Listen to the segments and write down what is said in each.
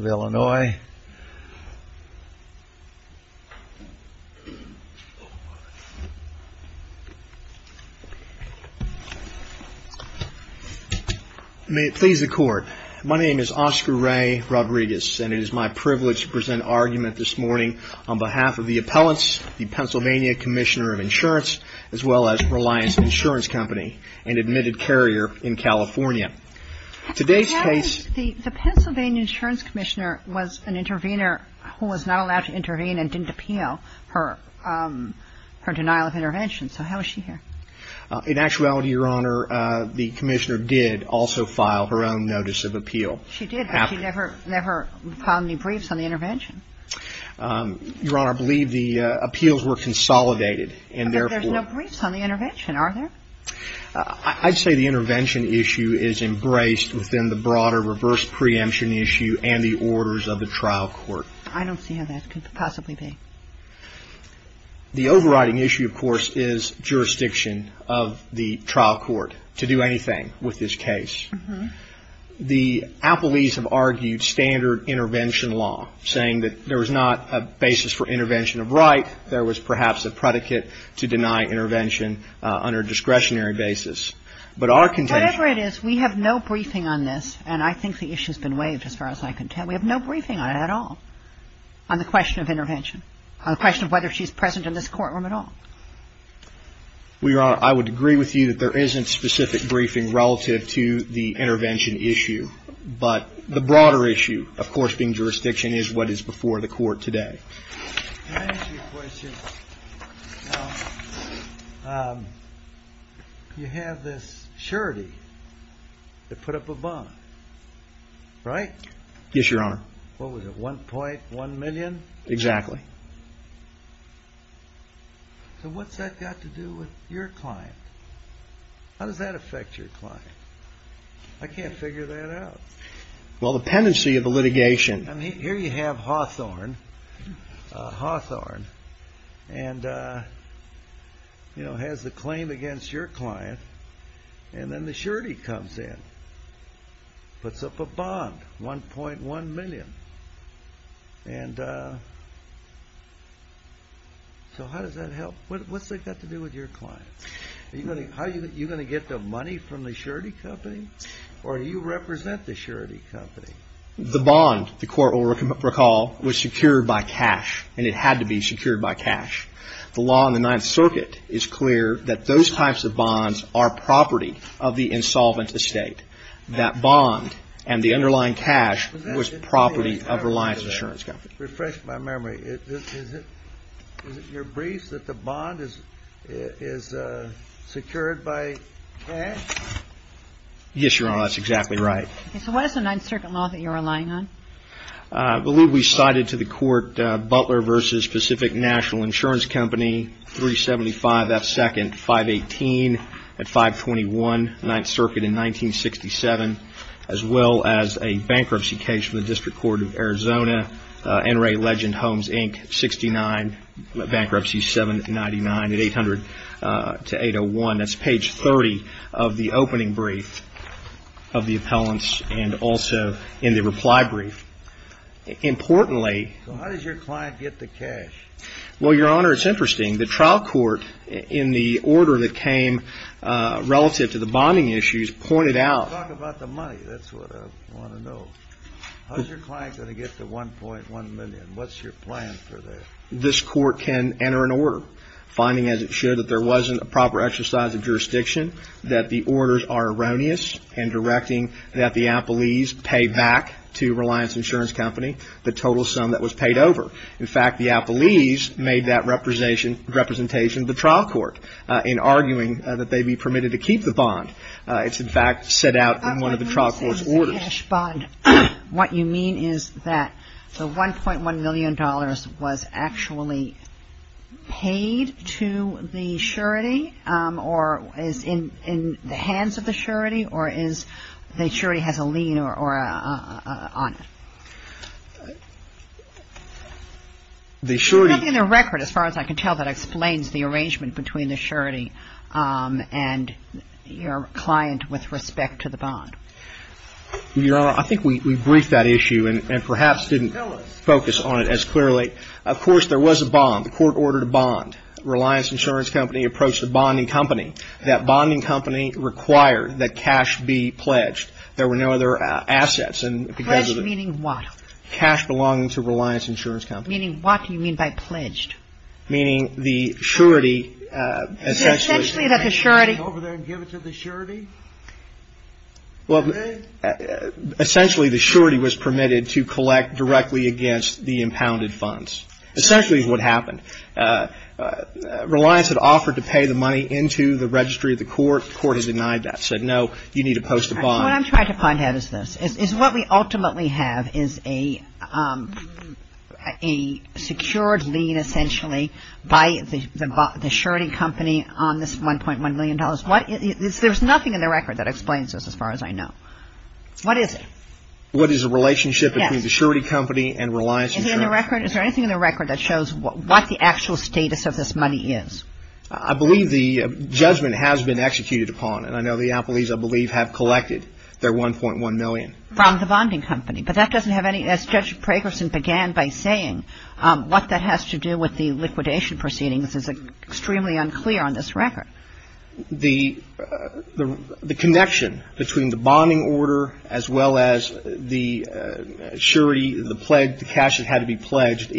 Illinois. May it please the court. My name is Oscar Ray. I'm a lawyer. I work for the Pennsylvania Attorney's Office, and I'm here to present an argument on behalf of the appellants, the Pennsylvania Commissioner of Insurance, as well as Reliance Insurance Company, an admitted carrier in California. The Pennsylvania Insurance Commissioner was an intervener who was not allowed to intervene and didn't appeal her denial of intervention. So how is she here? In actuality, Your Honor, the Commissioner did also file her own notice of appeal. She did, but she never filed any briefs on the intervention. Your Honor, I believe the appeals were consolidated, and therefore – But there's no briefs on the intervention, are there? I'd say the intervention issue is embraced within the broader reverse preemption issue and the orders of the trial court. I don't see how that could possibly be. The overriding issue, of course, is jurisdiction of the trial court to do anything with this case. The appellees have argued standard intervention law, saying that there was not a basis for intervention of right. There was perhaps a predicate to deny intervention under a discretionary basis. But our contention – Whatever it is, we have no briefing on this, and I think the issue has been waived as far as I can tell. We have no briefing on it at all, on the question of intervention, on the question of whether she's present in this courtroom at all. Well, Your Honor, I would agree with you that there isn't specific briefing relative to the intervention issue. But the broader issue, of course, being jurisdiction, is what is before the court today. Can I ask you a question? You have this surety to put up a bond, right? Yes, Your Honor. What was it, 1.1 million? Exactly. So what's that got to do with your client? How does that affect your client? I can't figure that out. Well, the pendency of the litigation – I mean, here you have Hawthorne. Hawthorne. And, you know, has the claim against your client. And then the surety comes in. Puts up a bond, 1.1 million. And so how does that help? What's that got to do with your client? Are you going to get the money from the surety company? Or do you represent the surety company? The bond, the court will recall, was secured by cash. And it had to be secured by cash. The law in the Ninth Circuit is clear that those types of bonds are property of the insolvent estate. That bond and the underlying cash was property of Reliance Insurance Company. Refresh my memory. Is it your briefs that the bond is secured by cash? Yes, Your Honor. That's exactly right. So what is the Ninth Circuit law that you're relying on? I believe we cited to the court Butler v. Pacific National Insurance Company, 375 F. Second, 518 at 521 Ninth Circuit in 1967, as well as a bankruptcy case from the District Court of Arizona, NRA Legend Homes, Inc., 69, bankruptcy 799 at 800-801. That's page 30 of the opening brief of the appellants and also in the reply brief. Importantly. So how does your client get the cash? Well, Your Honor, it's interesting. The trial court in the order that came relative to the bonding issues pointed out. Talk about the money. That's what I want to know. How's your client going to get the 1.1 million? What's your plan for that? This court can enter an order, finding as it should that there wasn't a proper exercise of jurisdiction, that the orders are erroneous, and directing that the appellees pay back to Reliance Insurance Company the total sum that was paid over. In fact, the appellees made that representation to the trial court in arguing that they be permitted to keep the bond. It's, in fact, set out in one of the trial court's orders. What you mean is that the $1.1 million was actually paid to the surety or is in the hands of the surety or is the surety has a lien on it? There's nothing in the record, as far as I can tell, that explains the arrangement between the surety and your client with respect to the bond. Your Honor, I think we briefed that issue and perhaps didn't focus on it as clearly. Of course, there was a bond. The court ordered a bond. Reliance Insurance Company approached the bonding company. That bonding company required that cash be pledged. There were no other assets. Pledged meaning what? Cash belonging to Reliance Insurance Company. Meaning what do you mean by pledged? Meaning the surety essentially. Essentially that the surety. Go over there and give it to the surety? Well, essentially the surety was permitted to collect directly against the impounded funds. Essentially is what happened. Reliance had offered to pay the money into the registry of the court. What I'm trying to find out is this, is what we ultimately have is a secured lien essentially by the surety company on this $1.1 million. There's nothing in the record that explains this as far as I know. What is it? What is the relationship between the surety company and Reliance Insurance? Is there anything in the record that shows what the actual status of this money is? I believe the judgment has been executed upon. And I know the appellees I believe have collected their $1.1 million. From the bonding company. But that doesn't have any, as Judge Pragerson began by saying, what that has to do with the liquidation proceedings is extremely unclear on this record. The connection between the bonding order as well as the surety, the cash that had to be pledged,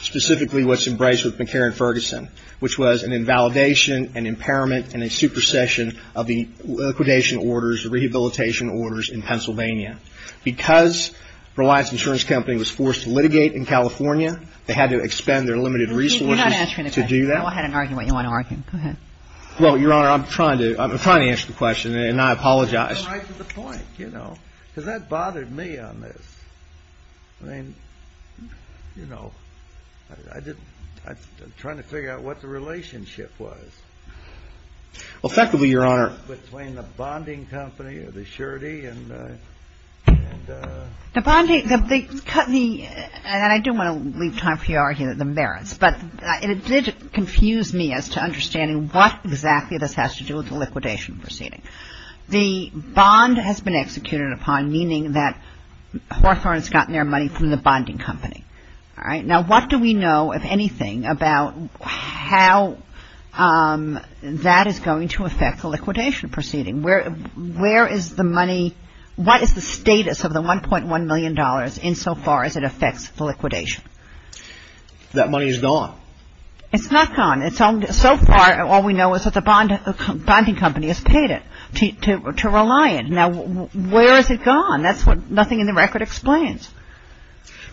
specifically what's embraced with McCarran-Ferguson, which was an invalidation, an impairment, and a supersession of the liquidation orders, rehabilitation orders in Pennsylvania. Because Reliance Insurance Company was forced to litigate in California, they had to expend their limited resources to do that. You're not answering the question. Go ahead and argue what you want to argue. Go ahead. Well, Your Honor, I'm trying to. I'm trying to answer the question, and I apologize. You're right to the point, you know, because that bothered me on this. I mean, you know, I didn't. I'm trying to figure out what the relationship was. Well, effectively, Your Honor. Between the bonding company or the surety and. The bonding, and I don't want to leave time for you to argue the merits, but it did confuse me as to understanding what exactly this has to do with the liquidation proceeding. The bond has been executed upon, meaning that Hawthorne has gotten their money from the bonding company. All right. Now, what do we know, if anything, about how that is going to affect the liquidation proceeding? Where is the money, what is the status of the $1.1 million insofar as it affects the liquidation? That money is gone. It's not gone. So far, all we know is that the bonding company has paid it to rely on. Now, where has it gone? That's what nothing in the record explains.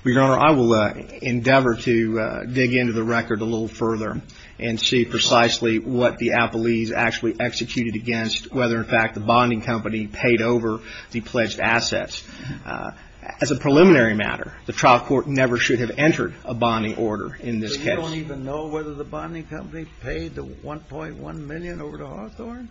Well, Your Honor, I will endeavor to dig into the record a little further and see precisely what the appellees actually executed against, whether, in fact, the bonding company paid over the pledged assets. As a preliminary matter, the trial court never should have entered a bonding order in this case. They don't even know whether the bonding company paid the $1.1 million over to Hawthorne?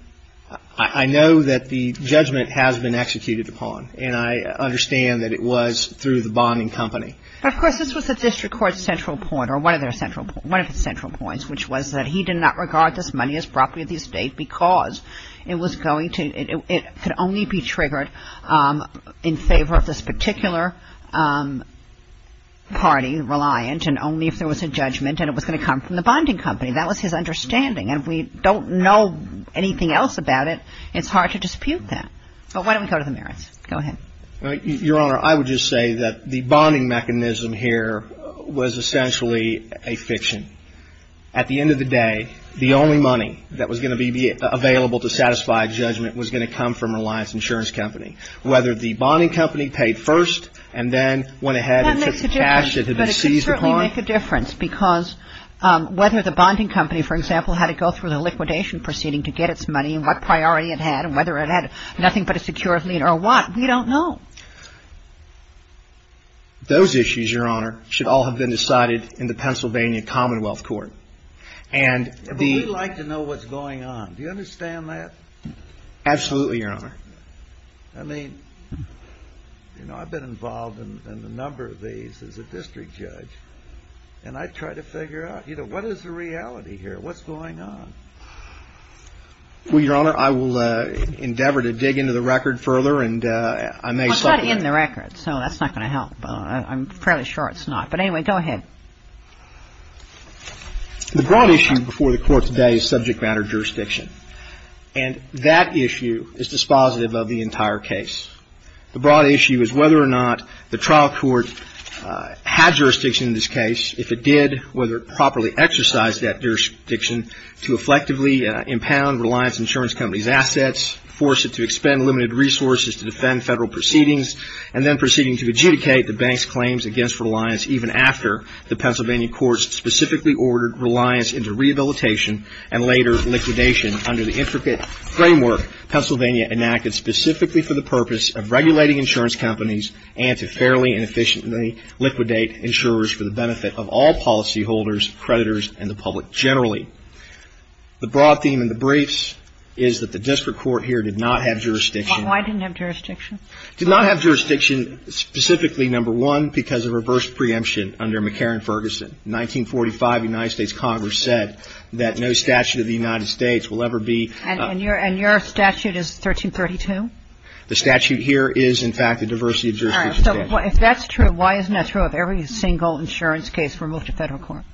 I know that the judgment has been executed upon, and I understand that it was through the bonding company. Of course, this was the district court's central point, or one of their central points, which was that he did not regard this money as property of the estate because it could only be triggered in favor of this particular party, Reliant, and only if there was a judgment and it was going to come from the bonding company. That was his understanding. And we don't know anything else about it. It's hard to dispute that. But why don't we go to the merits? Go ahead. Your Honor, I would just say that the bonding mechanism here was essentially a fiction. At the end of the day, the only money that was going to be available to satisfy a judgment was going to come from Reliant's insurance company. Whether the bonding company paid first and then went ahead and took the cash that had been seized upon doesn't make a difference because whether the bonding company, for example, had to go through the liquidation proceeding to get its money and what priority it had and whether it had nothing but a secure lien or what, we don't know. Those issues, Your Honor, should all have been decided in the Pennsylvania Commonwealth Court. But we'd like to know what's going on. Do you understand that? Absolutely, Your Honor. I mean, you know, I've been involved in a number of these as a district judge, and I try to figure out, you know, what is the reality here? What's going on? Well, Your Honor, I will endeavor to dig into the record further and I may say that. Well, it's not in the record, so that's not going to help. I'm fairly sure it's not. But anyway, go ahead. The broad issue before the Court today is subject matter jurisdiction. And that issue is dispositive of the entire case. The broad issue is whether or not the trial court had jurisdiction in this case. If it did, whether it properly exercised that jurisdiction to effectively impound Reliance Insurance Company's assets, force it to expend limited resources to defend federal proceedings, and then proceeding to adjudicate the bank's claims against Reliance even after the Pennsylvania courts specifically ordered Reliance into rehabilitation and later liquidation under the intricate framework Pennsylvania enacted specifically for the purpose of regulating insurance companies and to fairly and efficiently liquidate insurers for the benefit of all policyholders, creditors, and the public generally. The broad theme in the briefs is that the district court here did not have jurisdiction. Why didn't it have jurisdiction? It did not have jurisdiction specifically, number one, because of reverse preemption under McCarran-Ferguson. In 1945, the United States Congress said that no statute of the United States will ever be ---- And your statute is 1332? The statute here is, in fact, the diversity of jurisdiction statute. All right. So if that's true, why isn't that true of every single insurance case removed to federal court?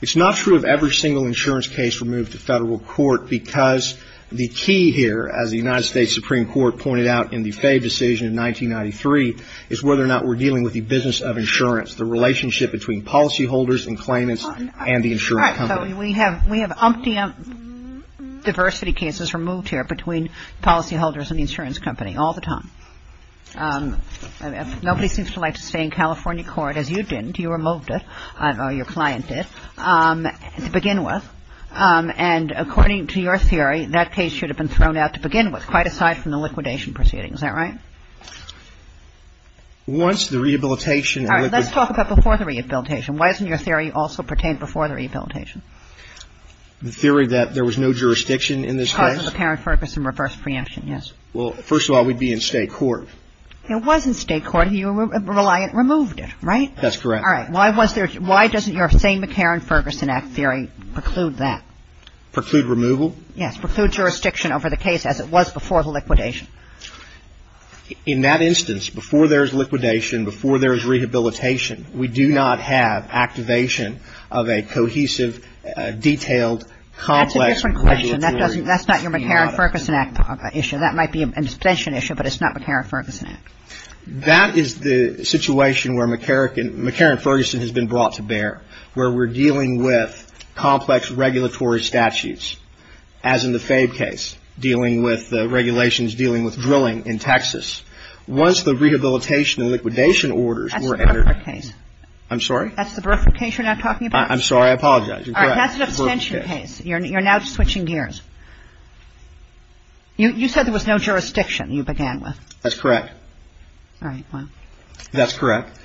It's not true of every single insurance case removed to federal court because the key here, as the United States Supreme Court pointed out in the Fay decision in 1993, is whether or not we're dealing with the business of insurance, the relationship between policyholders and claimants and the insurance company. We have umpteenth diversity cases removed here between policyholders and the insurance company all the time. Nobody seems to like to stay in California court, as you didn't. You removed it, or your client did, to begin with. And according to your theory, that case should have been thrown out to begin with, quite aside from the liquidation proceedings. Is that right? Once the rehabilitation and liquidation ---- All right. Let's talk about before the rehabilitation. Why doesn't your theory also pertain before the rehabilitation? The theory that there was no jurisdiction in this case? Because of McCarran-Ferguson reverse preemption, yes. Well, first of all, we'd be in state court. It was in state court. Your reliant removed it, right? That's correct. All right. Why was there ---- why doesn't your same McCarran-Ferguson Act theory preclude that? Preclude removal? Yes. Preclude jurisdiction over the case as it was before the liquidation. In that instance, before there's liquidation, before there's rehabilitation, we do not have activation of a cohesive, detailed, complex regulatory ---- That's a different question. That doesn't ---- that's not your McCarran-Ferguson Act issue. That might be an extension issue, but it's not McCarran-Ferguson Act. That is the situation where McCarran-Ferguson has been brought to bear, where we're dealing with complex regulatory statutes, as in the Fabe case, dealing with the regulations, dealing with drilling in Texas. Once the rehabilitation and liquidation orders were entered ---- That's the Bererford case. I'm sorry? That's the Bererford case you're now talking about? I'm sorry. I apologize. You're correct. All right. That's an abstention case. You're now switching gears. You said there was no jurisdiction you began with. That's correct. All right. Well ---- That's correct.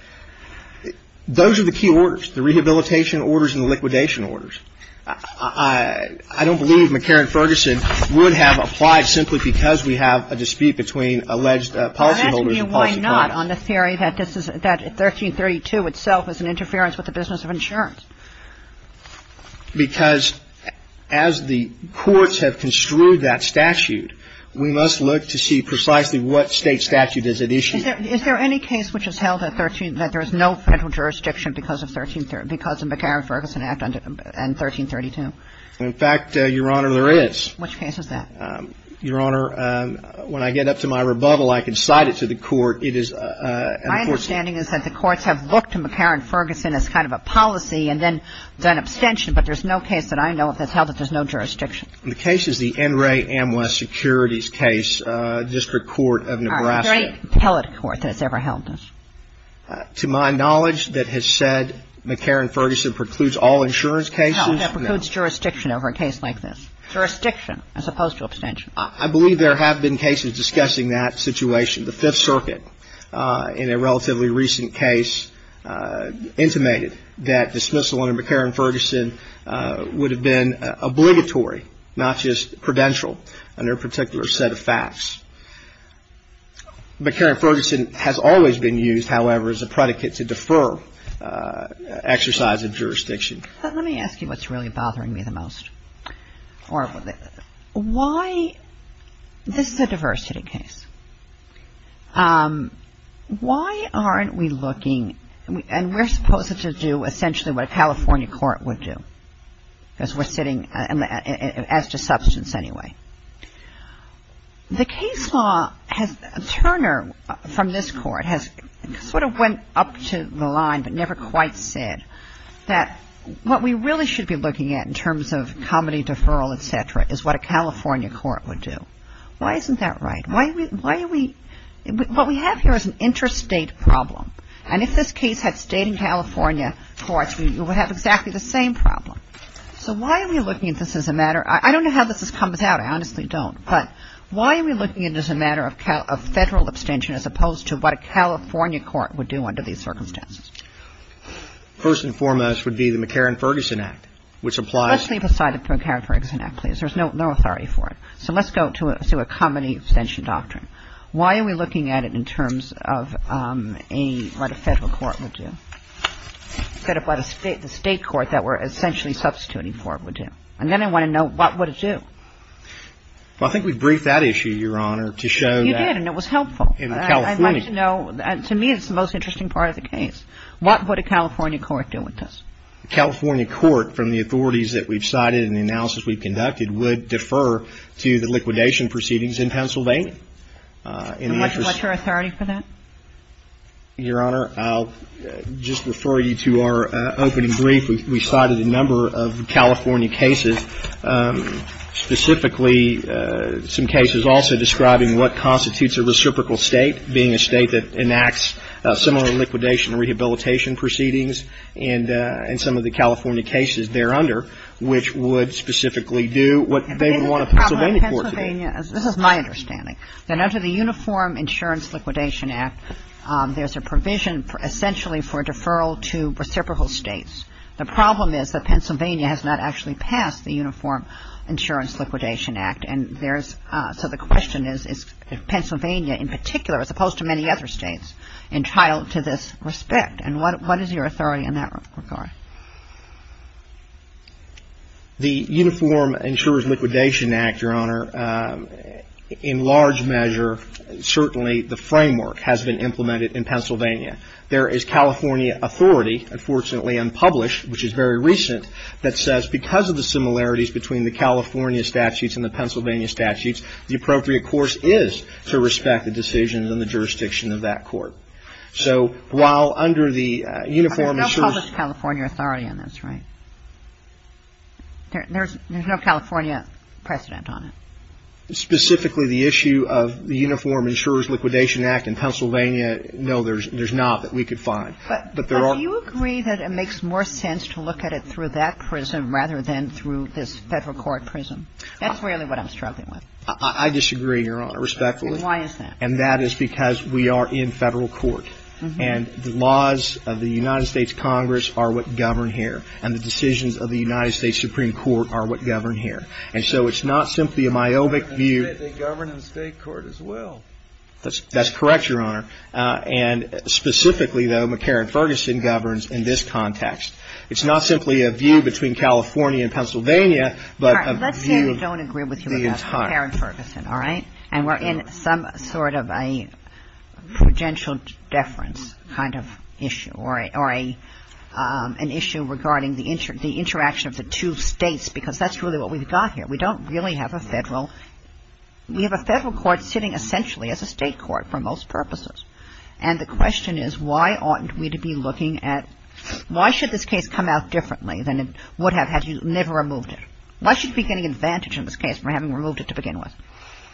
Those are the key orders, the rehabilitation orders and the liquidation orders. I don't believe McCarran-Ferguson would have applied simply because we have a dispute between alleged policyholders and policy clients. I'm asking you why not on the theory that 1332 itself is an interference with the business of insurance. Because as the courts have construed that statute, we must look to see precisely what state statute does it issue. Is there any case which is held at 13 ---- that there is no federal jurisdiction because of McCarran-Ferguson Act and 1332? In fact, Your Honor, there is. Which case is that? Your Honor, when I get up to my rebuttal, I can cite it to the court. My understanding is that the courts have looked to McCarran-Ferguson as kind of a policy and then done abstention, but there's no case that I know of that's held that there's no jurisdiction. The case is the NRA Amwes Securities case, District Court of Nebraska. All right. Is there any appellate court that has ever held this? To my knowledge, that has said McCarran-Ferguson precludes all insurance cases. No, that precludes jurisdiction over a case like this. Jurisdiction as opposed to abstention. I believe there have been cases discussing that situation. The Fifth Circuit in a relatively recent case intimated that dismissal under McCarran-Ferguson would have been obligatory, not just prudential, under a particular set of facts. McCarran-Ferguson has always been used, however, as a predicate to defer exercise of jurisdiction. Let me ask you what's really bothering me the most. Why — this is a diversity case. Why aren't we looking — and we're supposed to do essentially what a California court would do, because we're sitting as to substance anyway. The case law has — Turner from this court has sort of went up to the line but never quite said that what we really should be looking at in terms of comedy deferral, et cetera, is what a California court would do. Why isn't that right? Why are we — what we have here is an interstate problem. And if this case had stayed in California courts, we would have exactly the same problem. So why are we looking at this as a matter — I don't know how this comes out. I honestly don't. But why are we looking at it as a matter of Federal abstention as opposed to what a California court would do under these circumstances? First and foremost would be the McCarran-Ferguson Act, which applies — Let's leave aside the McCarran-Ferguson Act, please. There's no authority for it. So let's go to a comedy abstention doctrine. Why are we looking at it in terms of a — what a Federal court would do instead of what the State court that we're essentially substituting for it would do? And then I want to know what would it do. Well, I think we've briefed that issue, Your Honor, to show that — You did, and it was helpful. In California — I'd like to know — to me it's the most interesting part of the case. What would a California court do with this? A California court, from the authorities that we've cited and the analysis we've conducted, would defer to the liquidation proceedings in Pennsylvania. And what's your authority for that? Your Honor, I'll just refer you to our opening brief. We cited a number of California cases, specifically some cases also describing what constitutes a reciprocal State, being a State that enacts similar liquidation and rehabilitation proceedings, and some of the California cases thereunder, which would specifically do what they would want a Pennsylvania court to do. This is my understanding. That under the Uniform Insurance Liquidation Act, there's a provision essentially for deferral to reciprocal States. The problem is that Pennsylvania has not actually passed the Uniform Insurance Liquidation Act. So the question is, is Pennsylvania in particular, as opposed to many other States, entitled to this respect? And what is your authority in that regard? The Uniform Insurance Liquidation Act, Your Honor, in large measure, certainly the framework has been implemented in Pennsylvania. There is California authority, unfortunately unpublished, which is very recent, that says because of the similarities between the California statutes and the Pennsylvania statutes, the appropriate course is to respect the decisions in the jurisdiction of that court. So while under the Uniform Insurance ---- There's no published California authority on this, right? There's no California precedent on it? Specifically the issue of the Uniform Insurance Liquidation Act in Pennsylvania, no, there's not that we could find. But do you agree that it makes more sense to look at it through that prism rather than through this Federal court prism? That's really what I'm struggling with. I disagree, Your Honor, respectfully. And why is that? And that is because we are in Federal court. And the laws of the United States Congress are what govern here. And the decisions of the United States Supreme Court are what govern here. And so it's not simply a myopic view. They govern in the State court as well. That's correct, Your Honor. And specifically, though, McCarran-Ferguson governs in this context. It's not simply a view between California and Pennsylvania, but a view the entire. All right. Let's say we don't agree with you about McCarran-Ferguson, all right? And we're in some sort of a prudential deference kind of issue or an issue regarding the interaction of the two States, because that's really what we've got here. We don't really have a Federal. We have a Federal court sitting essentially as a State court for most purposes. And the question is, why oughtn't we to be looking at why should this case come out differently than it would have had you never removed it? Why should we be getting advantage in this case for having removed it to begin with?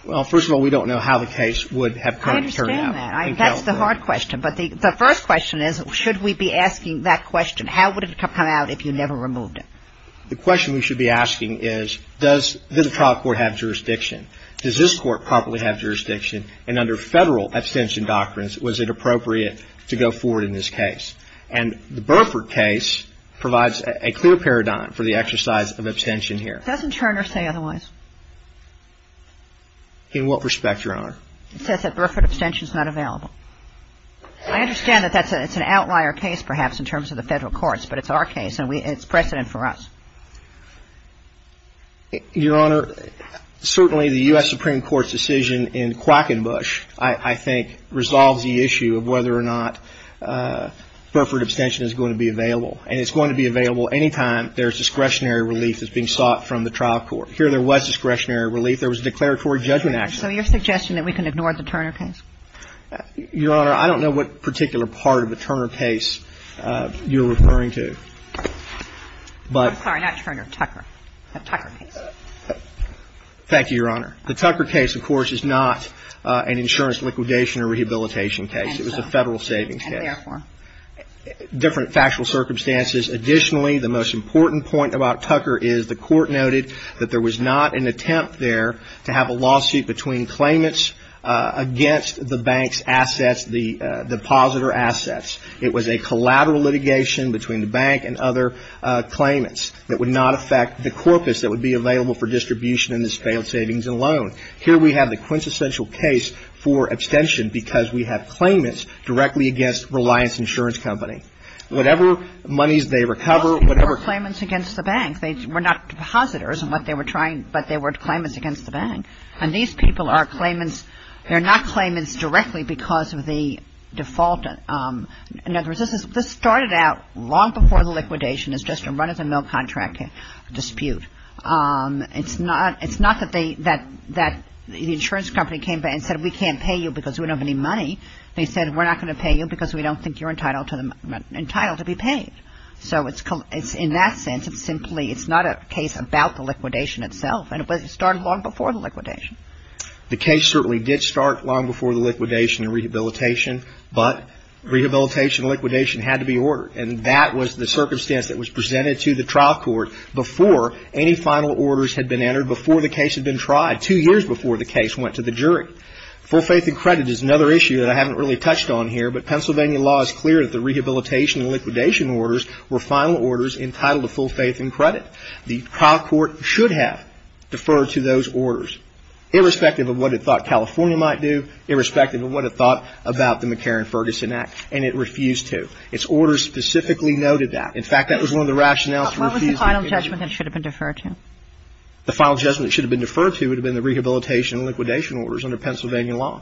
Well, first of all, we don't know how the case would have come to turn out. I understand that. That's the hard question. But the first question is, should we be asking that question, how would it come out if you never removed it? The question we should be asking is, does the trial court have jurisdiction? Does this court properly have jurisdiction? And under Federal abstention doctrines, was it appropriate to go forward in this case? And the Burford case provides a clear paradigm for the exercise of abstention here. Doesn't Turner say otherwise? In what respect, Your Honor? It says that Burford abstention is not available. I understand that that's an outlier case perhaps in terms of the Federal courts, but it's our case and it's precedent for us. Your Honor, certainly the U.S. Supreme Court's decision in Quackenbush, I think, resolves the issue of whether or not Burford abstention is going to be available. And it's going to be available any time there's discretionary relief that's being sought from the trial court. Here there was discretionary relief. There was a declaratory judgment action. So you're suggesting that we can ignore the Turner case? Your Honor, I don't know what particular part of the Turner case you're referring to. Sorry, not Turner. Tucker. The Tucker case. Thank you, Your Honor. The Tucker case, of course, is not an insurance liquidation or rehabilitation case. It was a Federal savings case. And therefore? Different factual circumstances. Additionally, the most important point about Tucker is the Court noted that there was not an attempt there to have a lawsuit between claimants against the bank's assets, the depositor assets. It was a collateral litigation between the bank and other claimants that would not affect the corpus that would be available for distribution in this failed savings and loan. Here we have the quintessential case for abstention because we have claimants directly against Reliance Insurance Company. Whatever monies they recover, whatever. Well, they were claimants against the bank. They were not depositors in what they were trying, but they were claimants against the bank. And these people are claimants. They're not claimants directly because of the default. In other words, this started out long before the liquidation. It's just a run-of-the-mill contract dispute. It's not that the insurance company came back and said we can't pay you because we don't have any money. They said we're not going to pay you because we don't think you're entitled to be paid. So in that sense, it's simply, it's not a case about the liquidation itself. And it started long before the liquidation. The case certainly did start long before the liquidation and rehabilitation, but rehabilitation and liquidation had to be ordered. And that was the circumstance that was presented to the trial court before any final orders had been entered, before the case had been tried, two years before the case went to the jury. Full faith and credit is another issue that I haven't really touched on here, but Pennsylvania law is clear that the rehabilitation and liquidation orders were final orders entitled to full faith and credit. The trial court should have deferred to those orders, irrespective of what it thought California might do, irrespective of what it thought about the McCarran-Ferguson Act, and it refused to. Its orders specifically noted that. In fact, that was one of the rationales. What was the final judgment that it should have been deferred to? The final judgment it should have been deferred to would have been the rehabilitation and liquidation orders under Pennsylvania law.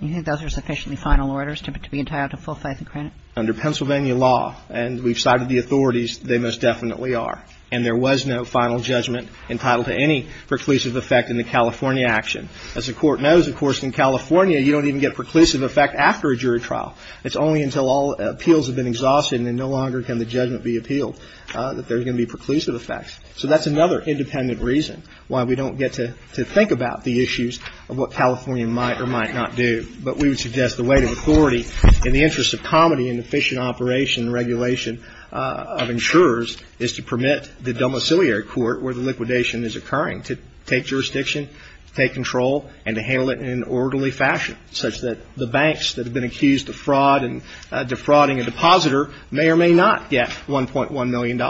You think those are sufficiently final orders to be entitled to full faith and credit? Under Pennsylvania law, and we've cited the authorities, they most definitely are. And there was no final judgment entitled to any preclusive effect in the California action. As the Court knows, of course, in California you don't even get preclusive effect after a jury trial. It's only until all appeals have been exhausted and no longer can the judgment be appealed that there's going to be preclusive effects. So that's another independent reason why we don't get to think about the issues of what California might or might not do. But we would suggest the weight of authority in the interest of comedy and efficient operation and regulation of insurers is to permit the domiciliary court where the liquidation is occurring to take jurisdiction, take control, and to handle it in an orderly fashion such that the banks that have been accused of fraud and defrauding a depositor may or may not get $1.1 million.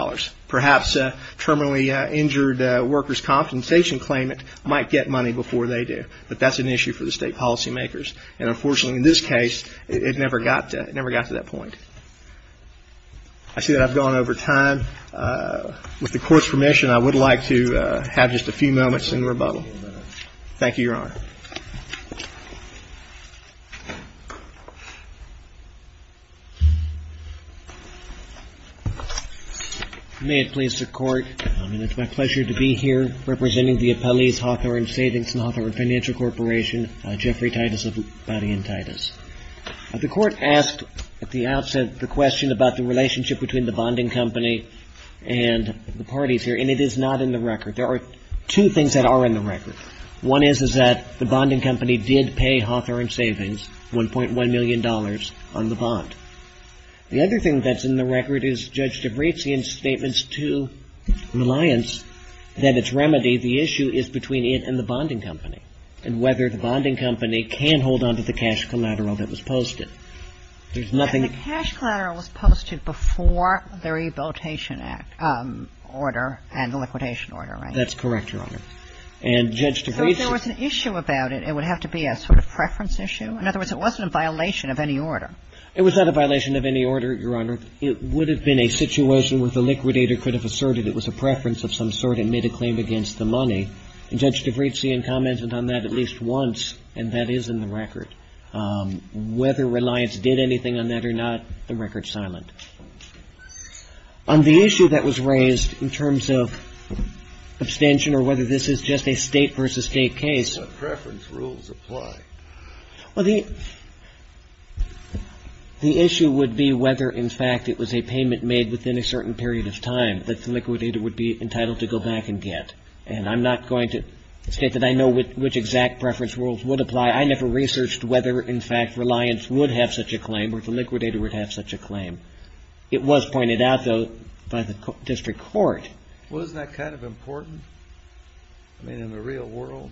Perhaps a terminally injured worker's compensation claimant might get money before they do. But that's an issue for the state policymakers. And unfortunately, in this case, it never got to that point. I see that I've gone over time. With the Court's permission, I would like to have just a few moments in rebuttal. Thank you, Your Honor. May it please the Court, and it's my pleasure to be here representing the appellees Hawthorne Savings and Hawthorne Financial Corporation, Jeffrey Titus of Body and Titus. The Court asked at the outset the question about the relationship between the bonding company and the parties here, and it is not in the record. One is, is that the bonding company did pay Hawthorne Savings $1.1 million on the bond. The other thing that's in the record is Judge DeBrasian's statements to Reliance that its remedy, the issue is between it and the bonding company and whether the bonding company can hold on to the cash collateral that was posted. There's nothing — The cash collateral was posted before the Rehabilitation Act order and the liquidation order, right? That's correct, Your Honor. And Judge DeBrasian — So if there was an issue about it, it would have to be a sort of preference issue? In other words, it wasn't a violation of any order. It was not a violation of any order, Your Honor. It would have been a situation where the liquidator could have asserted it was a preference of some sort and made a claim against the money. And Judge DeBrasian commented on that at least once, and that is in the record. Whether Reliance did anything on that or not, the record's silent. On the issue that was raised in terms of abstention or whether this is just a State versus State case — But preference rules apply. Well, the issue would be whether, in fact, it was a payment made within a certain period of time that the liquidator would be entitled to go back and get. And I'm not going to state that I know which exact preference rules would apply. I never researched whether, in fact, Reliance would have such a claim or the liquidator would have such a claim. It was pointed out, though, by the district court. Well, isn't that kind of important? I mean, in the real world.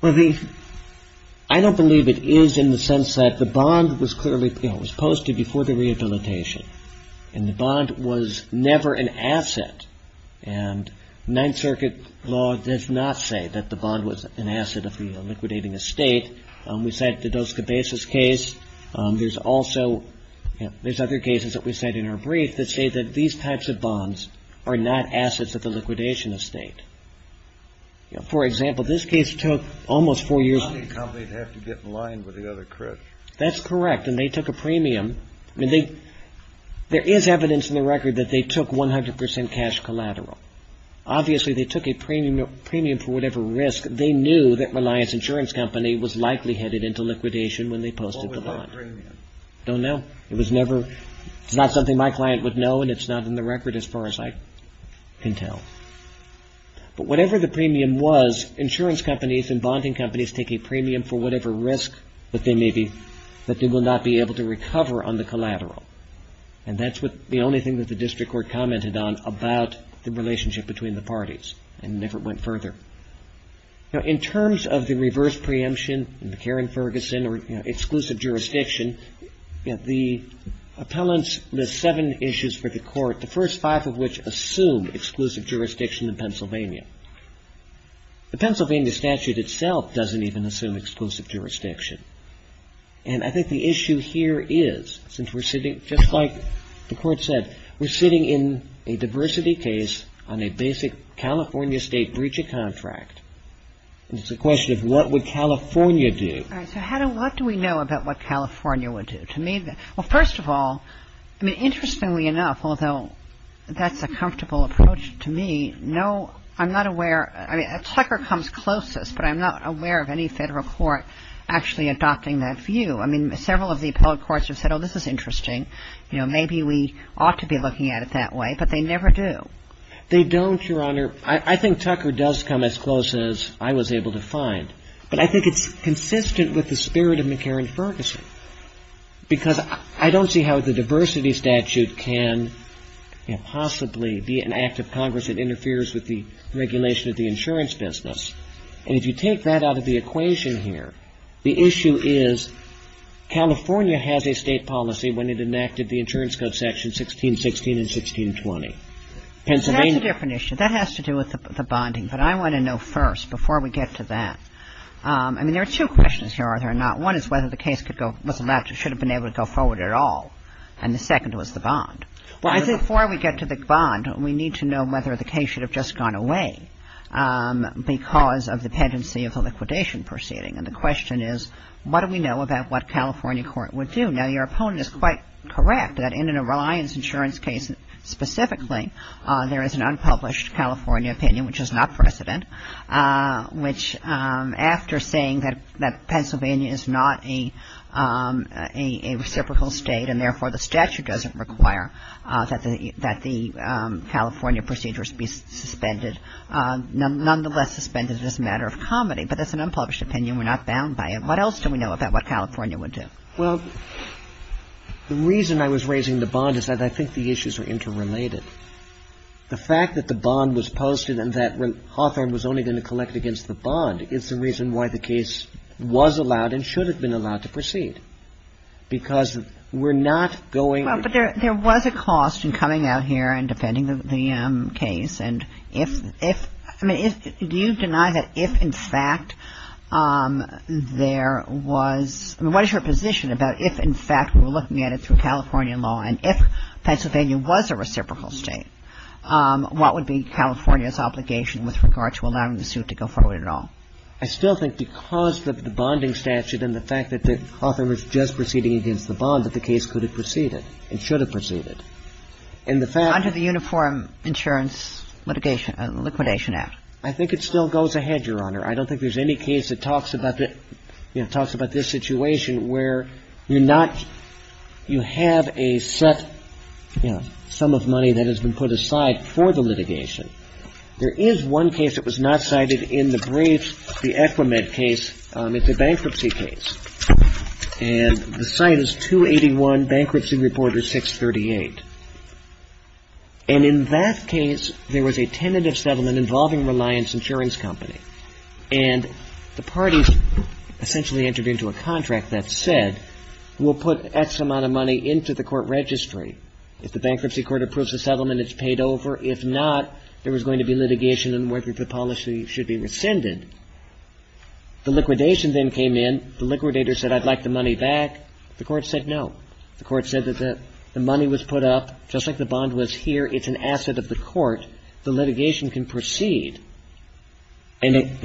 Well, the — I don't believe it is in the sense that the bond was clearly — it was posted before the rehabilitation, and the bond was never an asset. And Ninth Circuit law does not say that the bond was an asset of the liquidating estate. We cite the Dos Cabezas case. There's also — there's other cases that we cite in our brief that say that these types of bonds are not assets of the liquidation estate. For example, this case took almost four years — The bonding company would have to get in line with the other credit. That's correct. And they took a premium. I mean, they — there is evidence in the record that they took 100 percent cash collateral. Obviously, they took a premium for whatever risk. They knew that Reliance Insurance Company was likely headed into liquidation when they posted the bond. What was their premium? I don't know. It was never — it's not something my client would know, and it's not in the record as far as I can tell. But whatever the premium was, insurance companies and bonding companies take a premium for whatever risk that they may be — that they will not be able to recover on the collateral. And that's the only thing that the district court commented on about the relationship between the parties. And never went further. Now, in terms of the reverse preemption, McCarran-Ferguson, or exclusive jurisdiction, the appellants list seven issues for the court, the first five of which assume exclusive jurisdiction in Pennsylvania. The Pennsylvania statute itself doesn't even assume exclusive jurisdiction. And I think the issue here is, since we're sitting — just like the court said, we're sitting in a diversity case on a basic California state breach of contract. It's a question of what would California do. So, Hattie, what do we know about what California would do? To me — well, first of all, I mean, interestingly enough, although that's a comfortable approach to me, no — I'm not aware — I mean, a tucker comes closest, but I'm not aware of any federal court actually adopting that view. I mean, several of the appellate courts have said, oh, this is interesting. You know, maybe we ought to be looking at it that way, but they never do. They don't, Your Honor. I think tucker does come as close as I was able to find. But I think it's consistent with the spirit of McCarran-Ferguson, because I don't see how the diversity statute can possibly be an act of Congress that interferes with the regulation of the insurance business. And if you take that out of the equation here, the issue is, California has a state policy when it enacted the insurance code section 1616 and 1620. Pennsylvania — That's a different issue. That has to do with the bonding. But I want to know first, before we get to that — I mean, there are two questions here, are there or not. One is whether the case could go — was allowed to — should have been able to go forward at all. And the second was the bond. Before we get to the bond, we need to know whether the case should have just gone away because of the pendency of the liquidation proceeding. And the question is, what do we know about what California court would do? Now, your opponent is quite correct that in a reliance insurance case specifically, there is an unpublished California opinion, which is not precedent, which after saying that Pennsylvania is not a reciprocal state and therefore the statute doesn't require that the California procedures be suspended, nonetheless suspended is a matter of comedy. But that's an unpublished opinion. We're not bound by it. What else do we know about what California would do? Well, the reason I was raising the bond is that I think the issues are interrelated. The fact that the bond was posted and that Hawthorne was only going to collect against the bond is the reason why the case was allowed and should have been allowed to proceed because we're not going — Well, but there was a cost in coming out here and defending the case. And if — I mean, do you deny that if in fact there was — I mean, what is your position about if in fact we're looking at it through California law and if Pennsylvania was a reciprocal state, what would be California's obligation with regard to allowing the suit to go forward at all? I still think because of the bonding statute and the fact that Hawthorne was just proceeding against the bond, that the case could have proceeded and should have proceeded. And the fact — Under the Uniform Insurance Litigation — Liquidation Act. I think it still goes ahead, Your Honor. I don't think there's any case that talks about the — you know, talks about this situation where you're not — you have a set, you know, sum of money that has been put aside for the litigation. There is one case that was not cited in the briefs, the Equimed case. It's a bankruptcy case. And the site is 281 Bankruptcy Reporter 638. And in that case, there was a tentative settlement involving Reliance Insurance Company. And the parties essentially entered into a contract that said, we'll put X amount of money into the court registry. If the bankruptcy court approves the settlement, it's paid over. If not, there was going to be litigation on whether the policy should be rescinded. The liquidation then came in. The liquidator said, I'd like the money back. The Court said no. The Court said that the money was put up, just like the bond was here. It's an asset of the court. The litigation can proceed and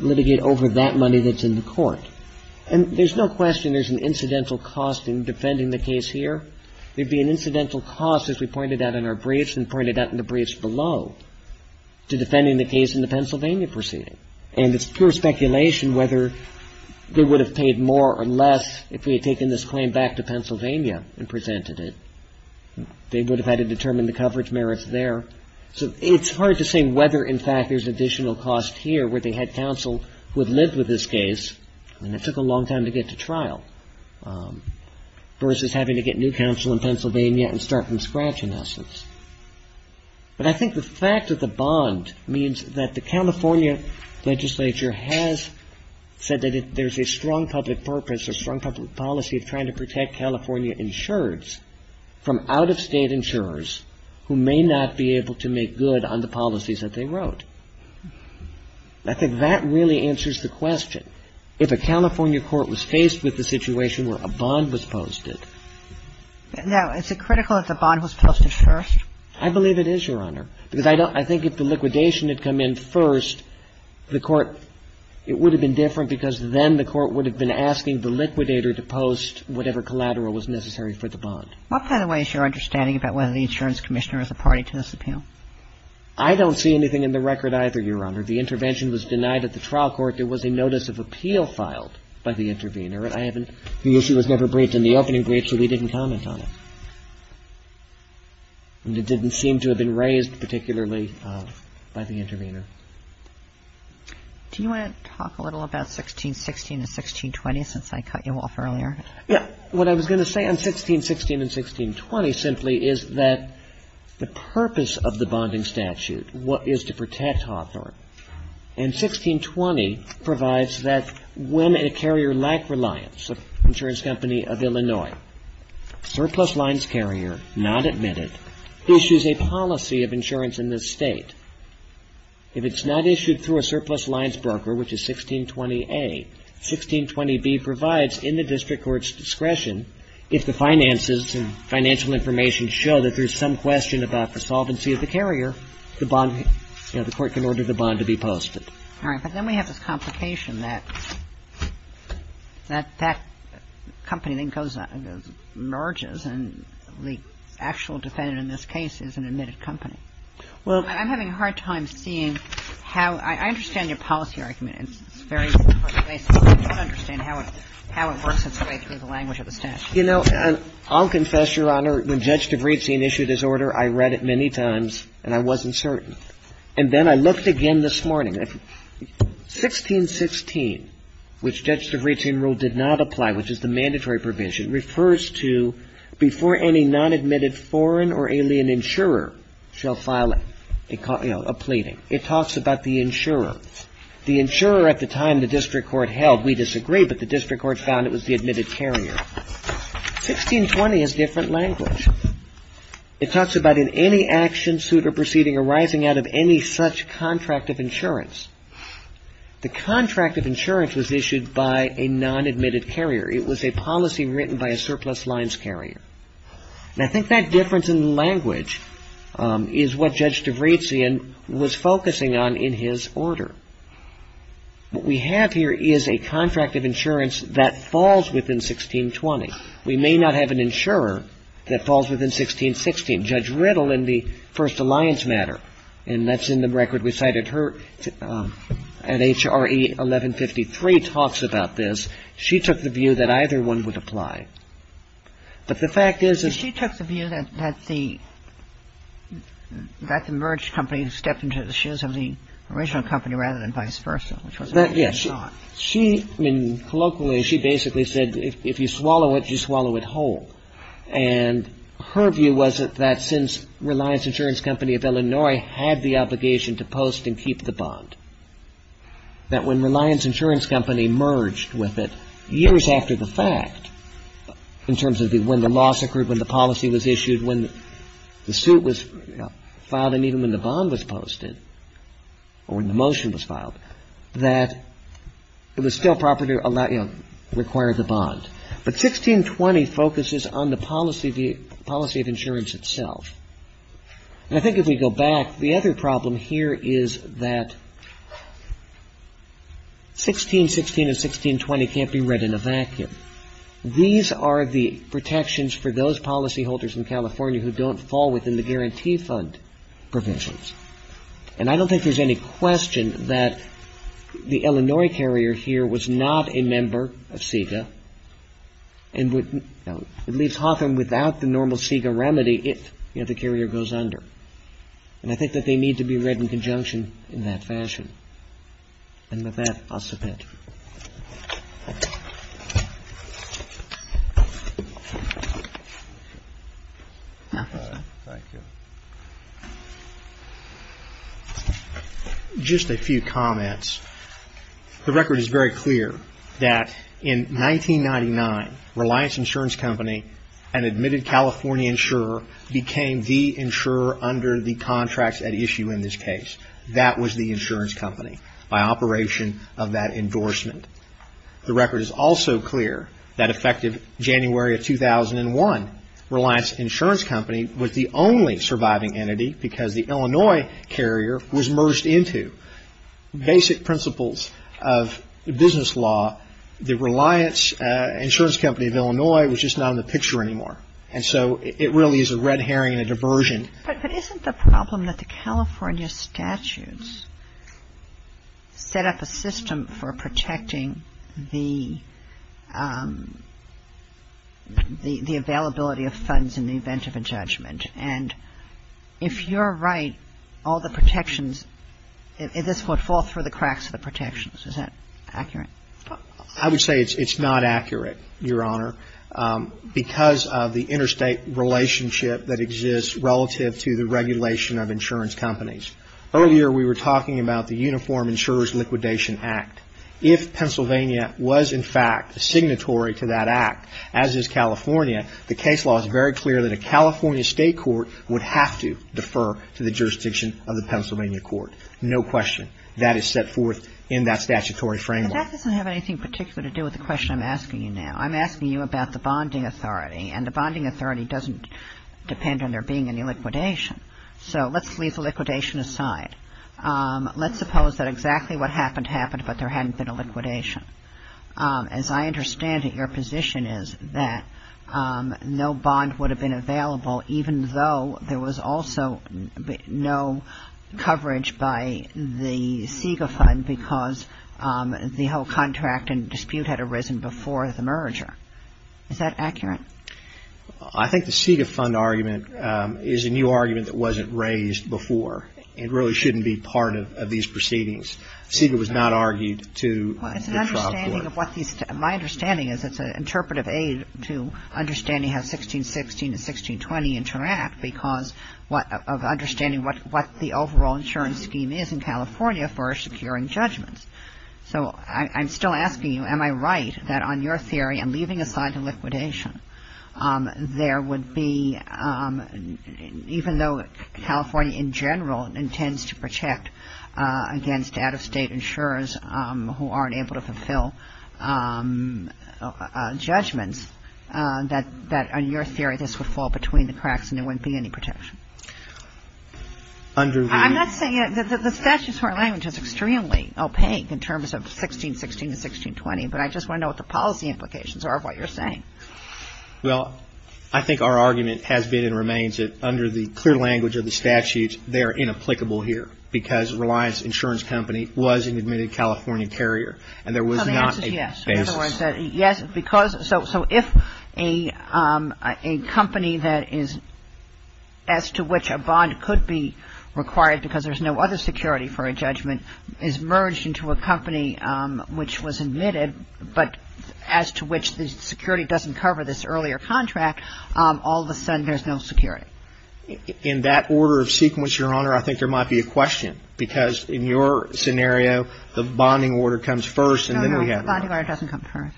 litigate over that money that's in the court. And there's no question there's an incidental cost in defending the case here. There'd be an incidental cost, as we pointed out in our briefs and pointed out in the briefs below, to defending the case in the Pennsylvania proceeding. And it's pure speculation whether they would have paid more or less if we had taken this claim back to Pennsylvania and presented it. They would have had to determine the coverage merits there. So it's hard to say whether, in fact, there's additional cost here where they had counsel who had lived with this case, and it took a long time to get to trial, versus having to get new counsel in Pennsylvania and start from scratch, in essence. But I think the fact that the bond means that the California legislature has said that there's a strong public purpose, a strong public policy of trying to protect California insureds from out-of-state insurers who may not be able to make good on the policies that they wrote. I think that really answers the question. If a California court was faced with the situation where a bond was posted. Now, is it critical that the bond was posted first? I believe it is, Your Honor. Because I don't – I think if the liquidation had come in first, the court – it would have been different because then the court would have been asking the liquidator to post whatever collateral was necessary for the bond. What, by the way, is your understanding about whether the insurance commissioner is a party to this appeal? I don't see anything in the record either, Your Honor. The intervention was denied at the trial court. There was a notice of appeal filed by the intervener. I haven't – the issue was never briefed in the opening brief, so we didn't comment on it. And it didn't seem to have been raised particularly by the intervener. Do you want to talk a little about 1616 and 1620 since I cut you off earlier? Yeah. What I was going to say on 1616 and 1620 simply is that the purpose of the bonding statute is to protect Hawthorne. And 1620 provides that when a carrier lacked reliance, an insurance company of Illinois, surplus lines carrier, not admitted, issues a policy of insurance in this State. If it's not issued through a surplus lines broker, which is 1620A, 1620B provides in the district court's discretion if the finances and financial information show that there's some question about the solvency of the carrier, the bond – you know, the bond to be posted. All right. But then we have this complication that that company then goes – merges and the actual defendant in this case is an admitted company. Well – I'm having a hard time seeing how – I understand your policy argument. It's very – I don't understand how it works its way through the language of the statute. You know, I'll confess, Your Honor. When Judge DeVritzine issued his order, I read it many times and I wasn't certain. And then I looked again this morning. 1616, which Judge DeVritzine rule did not apply, which is the mandatory provision, refers to before any non-admitted foreign or alien insurer shall file, you know, a pleading. It talks about the insurer. The insurer at the time the district court held. We disagree, but the district court found it was the admitted carrier. 1620 has different language. It talks about in any action, suit or proceeding arising out of any such contract of insurance. The contract of insurance was issued by a non-admitted carrier. It was a policy written by a surplus lines carrier. And I think that difference in language is what Judge DeVritzine was focusing on in his order. What we have here is a contract of insurance that falls within 1620. We may not have an insurer that falls within 1616. Judge Riddle in the First Alliance matter, and that's in the record we cited her at HRE 1153, talks about this. She took the view that either one would apply. But the fact is that the merged company stepped into the shoes of the original company rather than vice versa. Colloquially, she basically said if you swallow it, you swallow it whole. And her view was that since Reliance Insurance Company of Illinois had the obligation to post and keep the bond, that when Reliance Insurance Company merged with it years after the fact, in terms of when the loss occurred, when the policy was issued, when the suit was filed, and even when the bond was posted or when the motion was filed, that it was still proper to require the bond. But 1620 focuses on the policy of insurance itself. And I think if we go back, the other problem here is that 1616 and 1620 can't be read in a vacuum. These are the protections for those policyholders in California who don't fall within the guarantee fund. And I don't think there's any question that the Illinois carrier here was not a member of CIGA and would leave Hawthorne without the normal CIGA remedy if the carrier goes under. And I think that they need to be read in conjunction in that fashion. And with that, I'll submit. Thank you. Just a few comments. The record is very clear that in 1999, Reliance Insurance Company, an admitted California insurer, became the insurer under the contracts at issue in this case. That was the insurance company by operation of that endorsement. The record is also clear that effective January of 2001, Reliance Insurance Company was the only surviving entity because the Illinois carrier was merged into. Basic principles of business law, the Reliance Insurance Company of Illinois was just not in the picture anymore. And so it really is a red herring and a diversion. But isn't the problem that the California statutes set up a system for protecting the availability of funds in the event of a judgment? And if you're right, all the protections, this would fall through the cracks of the protections. Is that accurate? I would say it's not accurate, Your Honor, because of the interstate relationship that exists relative to the regulation of insurance companies. Earlier, we were talking about the Uniform Insurance Liquidation Act. If Pennsylvania was, in fact, signatory to that act, as is California, the case law is very clear that a California state court would have to defer to the jurisdiction of the Pennsylvania court. No question. That is set forth in that statutory framework. But that doesn't have anything in particular to do with the question I'm asking you now. I'm asking you about the bonding authority. And the bonding authority doesn't depend on there being any liquidation. So let's leave the liquidation aside. Let's suppose that exactly what happened happened, but there hadn't been a liquidation. As I understand it, your position is that no bond would have been available, even though there was also no coverage by the SIGA fund because the whole contract and dispute had arisen before the merger. Is that accurate? I think the SIGA fund argument is a new argument that wasn't raised before and really shouldn't be part of these proceedings. SIGA was not argued to the trial court. My understanding is it's an interpretive aid to understanding how 1616 and 1620 interact because of understanding what the overall insurance scheme is in California for securing judgments. So I'm still asking you, am I right that on your theory, and leaving aside the liquidation, there would be, even though California in general intends to protect against out-of-state insurers who aren't able to fulfill judgments, that on your theory this would fall between the cracks and there wouldn't be any protection? I'm not saying that the statute is extremely opaque in terms of 1616 and 1620, but I just want to know what the policy implications are of what you're saying. Well, I think our argument has been and remains that under the clear language of the statute, they are inapplicable here because Reliance Insurance Company was an admitted California carrier and there was not a basis. Yes. So if a company that is as to which a bond could be required because there's no other security for a judgment is merged into a company which was admitted, but as to which the security doesn't cover this earlier contract, all of a sudden there's no security. In that order of sequence, Your Honor, I think there might be a question because in your scenario the bonding order comes first and then we have the bond. The bonding order doesn't come first.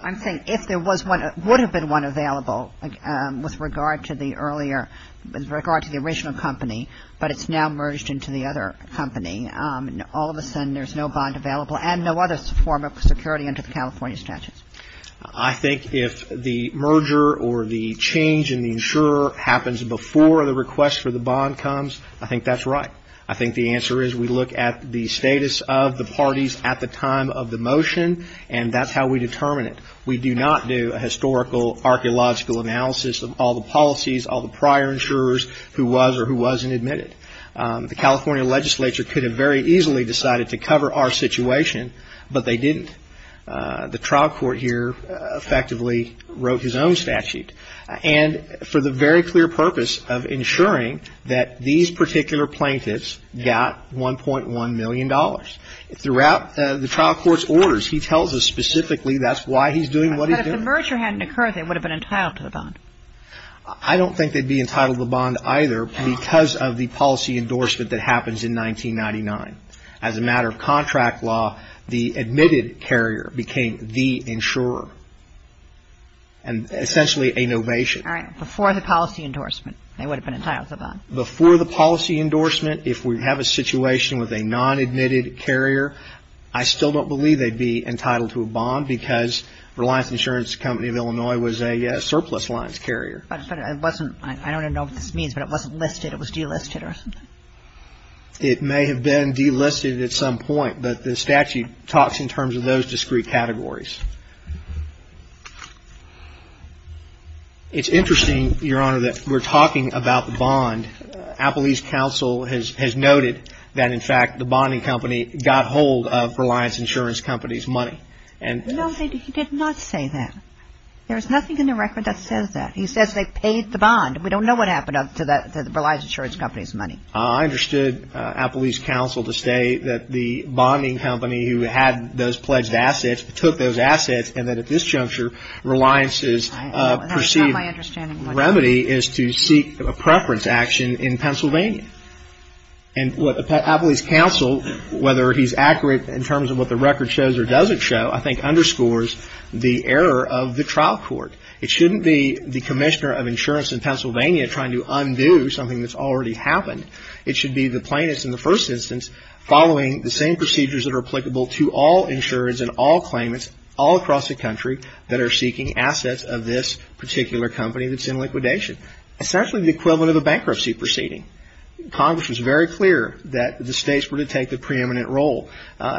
I'm saying if there was one, would have been one available with regard to the earlier, with regard to the original company, but it's now merged into the other company, all of a sudden there's no bond available and no other form of security under the California statutes. I think if the merger or the change in the insurer happens before the request for the bond comes, I think that's right. I think the answer is we look at the status of the parties at the time of the motion and that's how we determine it. We do not do a historical archaeological analysis of all the policies, all the prior insurers who was or who wasn't admitted. The California legislature could have very easily decided to cover our situation, but they didn't. The trial court here effectively wrote his own statute. And for the very clear purpose of ensuring that these particular plaintiffs got $1.1 million. Throughout the trial court's orders, he tells us specifically that's why he's doing what he's doing. But if the merger hadn't occurred, they would have been entitled to the bond. I don't think they'd be entitled to the bond either because of the policy endorsement that happens in 1999. As a matter of contract law, the admitted carrier became the insurer. And essentially a novation. All right. Before the policy endorsement, they would have been entitled to the bond. Before the policy endorsement, if we have a situation with a non-admitted carrier, I still don't believe they'd be entitled to a bond because Reliance Insurance Company of Illinois was a surplus lines carrier. But it wasn't. I don't know what this means, but it wasn't listed. It was delisted or something. It may have been delisted at some point, but the statute talks in terms of those discrete categories. It's interesting, Your Honor, that we're talking about the bond. Appellee's counsel has noted that, in fact, the bonding company got hold of Reliance Insurance Company's money. No, he did not say that. There's nothing in the record that says that. He says they paid the bond. We don't know what happened to Reliance Insurance Company's money. I understood Appellee's counsel to say that the bonding company who had those pledged assets took those assets and that at this juncture Reliance's perceived remedy is to seek a preference action in Pennsylvania. And what Appellee's counsel, whether he's accurate in terms of what the record shows or doesn't show, I think underscores the error of the trial court. It shouldn't be the commissioner of insurance in Pennsylvania trying to undo something that's already happened. It should be the plaintiffs in the first instance following the same procedures that are applicable to all insurers and all claimants all across the country that are seeking assets of this particular company that's in liquidation, essentially the equivalent of a bankruptcy proceeding. Congress was very clear that the states were to take the preeminent role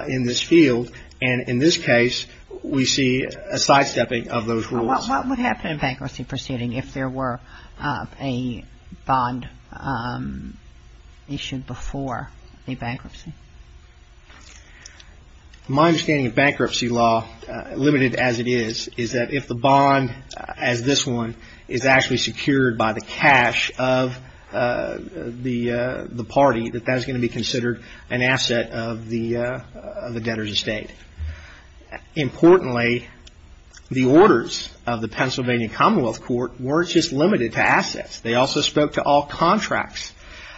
in this field, and in this case we see a sidestepping of those rules. What would happen in a bankruptcy proceeding if there were a bond issued before a bankruptcy? My understanding of bankruptcy law, limited as it is, is that if the bond as this one is actually secured by the cash of the party, that that is going to be considered an asset of the debtor's estate. Importantly, the orders of the Pennsylvania Commonwealth Court weren't just limited to assets. They also spoke to all contracts.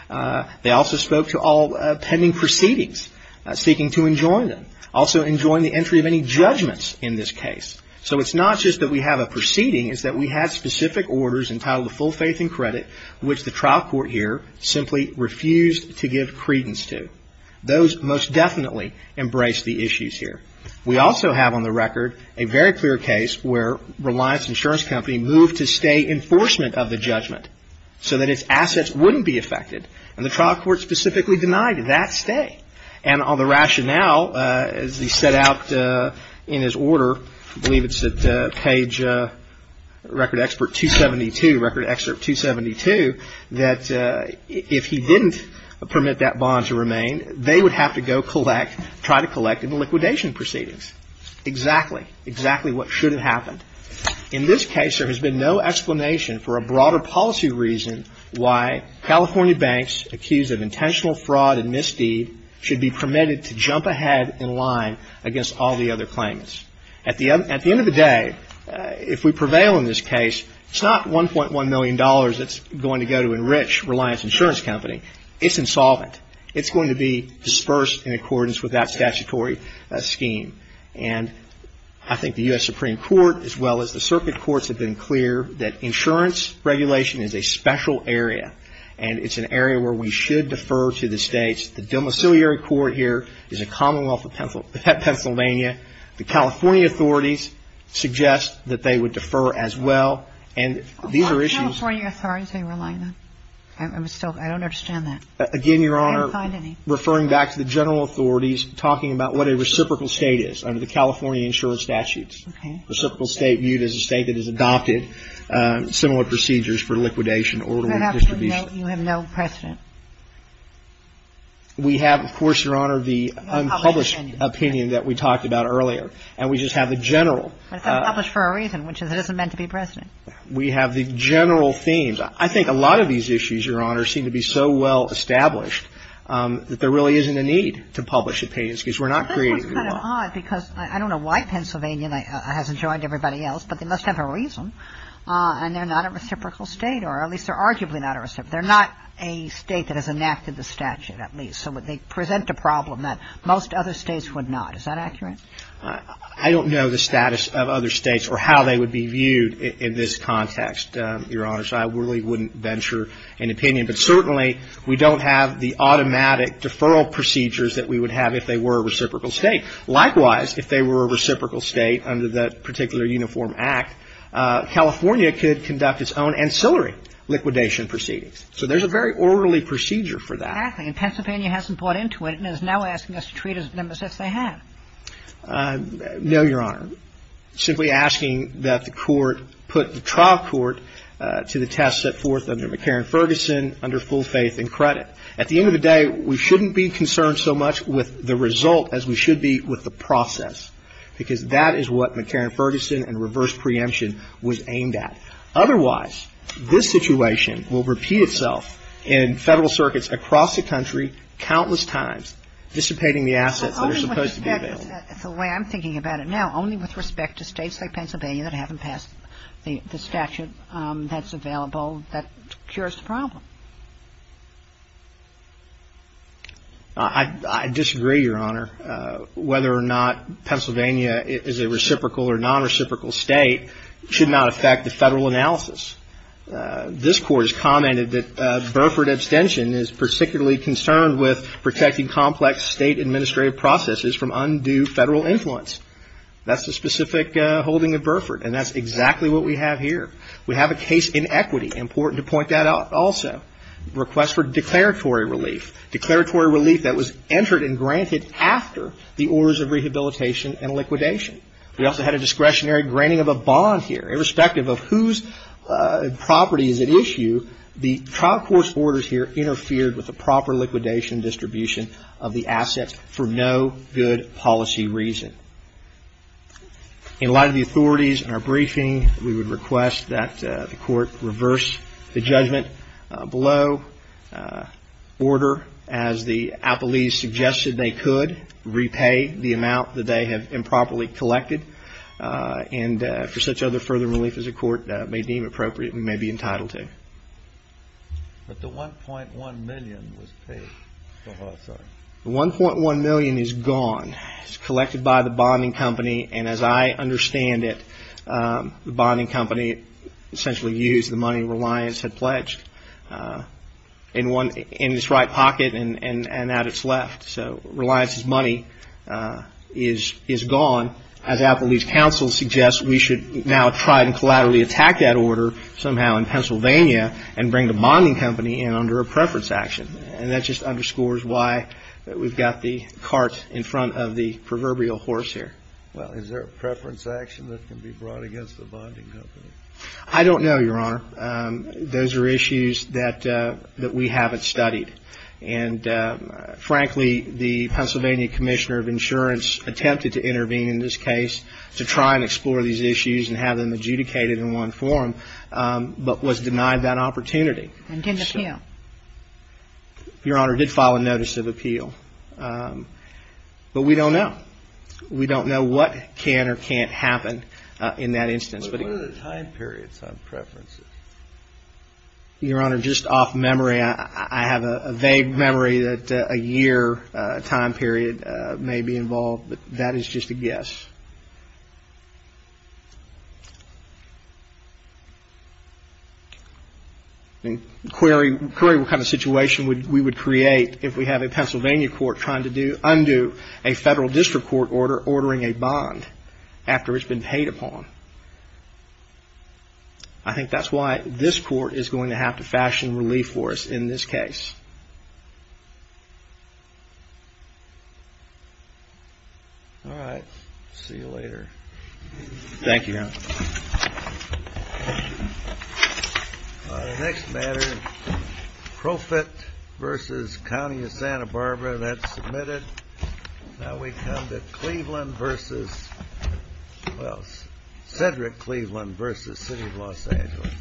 They also spoke to all pending proceedings, seeking to enjoin them, also enjoin the entry of any judgments in this case. So it's not just that we have a proceeding. It's that we have specific orders entitled to full faith and credit, which the trial court here simply refused to give credence to. Those most definitely embrace the issues here. We also have on the record a very clear case where Reliance Insurance Company moved to stay enforcement of the judgment so that its assets wouldn't be affected, and the trial court specifically denied that stay. And on the rationale, as he set out in his order, I believe it's at page record expert 272, record excerpt 272, that if he didn't permit that bond to remain, they would have to go collect, try to collect in the liquidation proceedings. Exactly. Exactly what should have happened. In this case, there has been no explanation for a broader policy reason why California banks accused of intentional fraud and misdeed should be permitted to jump ahead in line against all the other claims. At the end of the day, if we prevail in this case, it's not $1.1 million that's going to go to enrich Reliance Insurance Company. It's insolvent. It's going to be dispersed in accordance with that statutory scheme. And I think the U.S. Supreme Court, as well as the circuit courts, have been clear that insurance regulation is a special area, and it's an area where we should defer to the states. The domiciliary court here is a commonwealth of Pennsylvania. The California authorities suggest that they would defer as well, and these are issues. What California authorities are you relying on? I don't understand that. Again, Your Honor, referring back to the general authorities, talking about what a reciprocal state is under the California insurance statutes. Okay. Reciprocal state viewed as a state that has adopted similar procedures for liquidation, order, and distribution. You have no precedent. We have, of course, Your Honor, the unpublished opinion that we talked about earlier, and we just have the general. It's unpublished for a reason, which is it isn't meant to be precedent. We have the general themes. I think a lot of these issues, Your Honor, seem to be so well established that there really isn't a need to publish opinions because we're not creating them at all. That's kind of odd because I don't know why Pennsylvania hasn't joined everybody else, but they must have a reason. And they're not a reciprocal state, or at least they're arguably not a reciprocal state. They're not a state that has enacted the statute, at least. So they present a problem that most other states would not. Is that accurate? I don't know the status of other states or how they would be viewed in this context, Your Honor. So I really wouldn't venture an opinion. But certainly, we don't have the automatic deferral procedures that we would have if they were a reciprocal state. Likewise, if they were a reciprocal state under that particular Uniform Act, California could conduct its own ancillary liquidation proceedings. So there's a very orderly procedure for that. Exactly. And Pennsylvania hasn't bought into it and is now asking us to treat them as if they have. No, Your Honor. I'm simply asking that the Court put the trial court to the test set forth under McCarran-Ferguson, under full faith and credit. At the end of the day, we shouldn't be concerned so much with the result as we should be with the process, because that is what McCarran-Ferguson and reverse preemption was aimed at. Otherwise, this situation will repeat itself in Federal circuits across the country The way I'm thinking about it now, only with respect to states like Pennsylvania that haven't passed the statute that's available that cures the problem. I disagree, Your Honor. Whether or not Pennsylvania is a reciprocal or nonreciprocal state should not affect the Federal analysis. This Court has commented that Burford abstention is particularly concerned with protecting administrative processes from undue Federal influence. That's the specific holding of Burford. And that's exactly what we have here. We have a case in equity. Important to point that out also. Request for declaratory relief. Declaratory relief that was entered and granted after the orders of rehabilitation and liquidation. We also had a discretionary granting of a bond here. Irrespective of whose property is at issue, the trial court's orders here interfered with the proper liquidation distribution of the assets for no good policy reason. In light of the authorities and our briefing, we would request that the Court reverse the judgment below. Order, as the appellees suggested they could, repay the amount that they have improperly collected. And for such other further relief as the Court may deem appropriate, we may be entitled to. But the $1.1 million was paid. The $1.1 million is gone. It's collected by the bonding company. And as I understand it, the bonding company essentially used the money Reliance had pledged in its right pocket and at its left. So Reliance's money is gone. As Appellee's counsel suggests, we should now try to collaterally attack that order somehow in Pennsylvania and bring the bonding company in under a preference action. And that just underscores why we've got the cart in front of the proverbial horse here. Well, is there a preference action that can be brought against the bonding company? I don't know, Your Honor. Those are issues that we haven't studied. And frankly, the Pennsylvania Commissioner of Insurance attempted to intervene in this case to try and explore these issues and have them adjudicated in one forum. But was denied that opportunity. And didn't appeal. Your Honor, did file a notice of appeal. But we don't know. We don't know what can or can't happen in that instance. But what are the time periods on preferences? Your Honor, just off memory, I have a vague memory that a year time period may be involved. But that is just a guess. Query what kind of situation we would create if we have a Pennsylvania court trying to undo a federal district court order ordering a bond after it's been paid upon. I think that's why this court is going to have to fashion relief for us in this case. All right. See you later. Thank you, Your Honor. The next matter, Profitt v. County of Santa Barbara. That's submitted. Now we come to Cleveland v. Well, Cedric Cleveland v. City of Los Angeles. Thank you.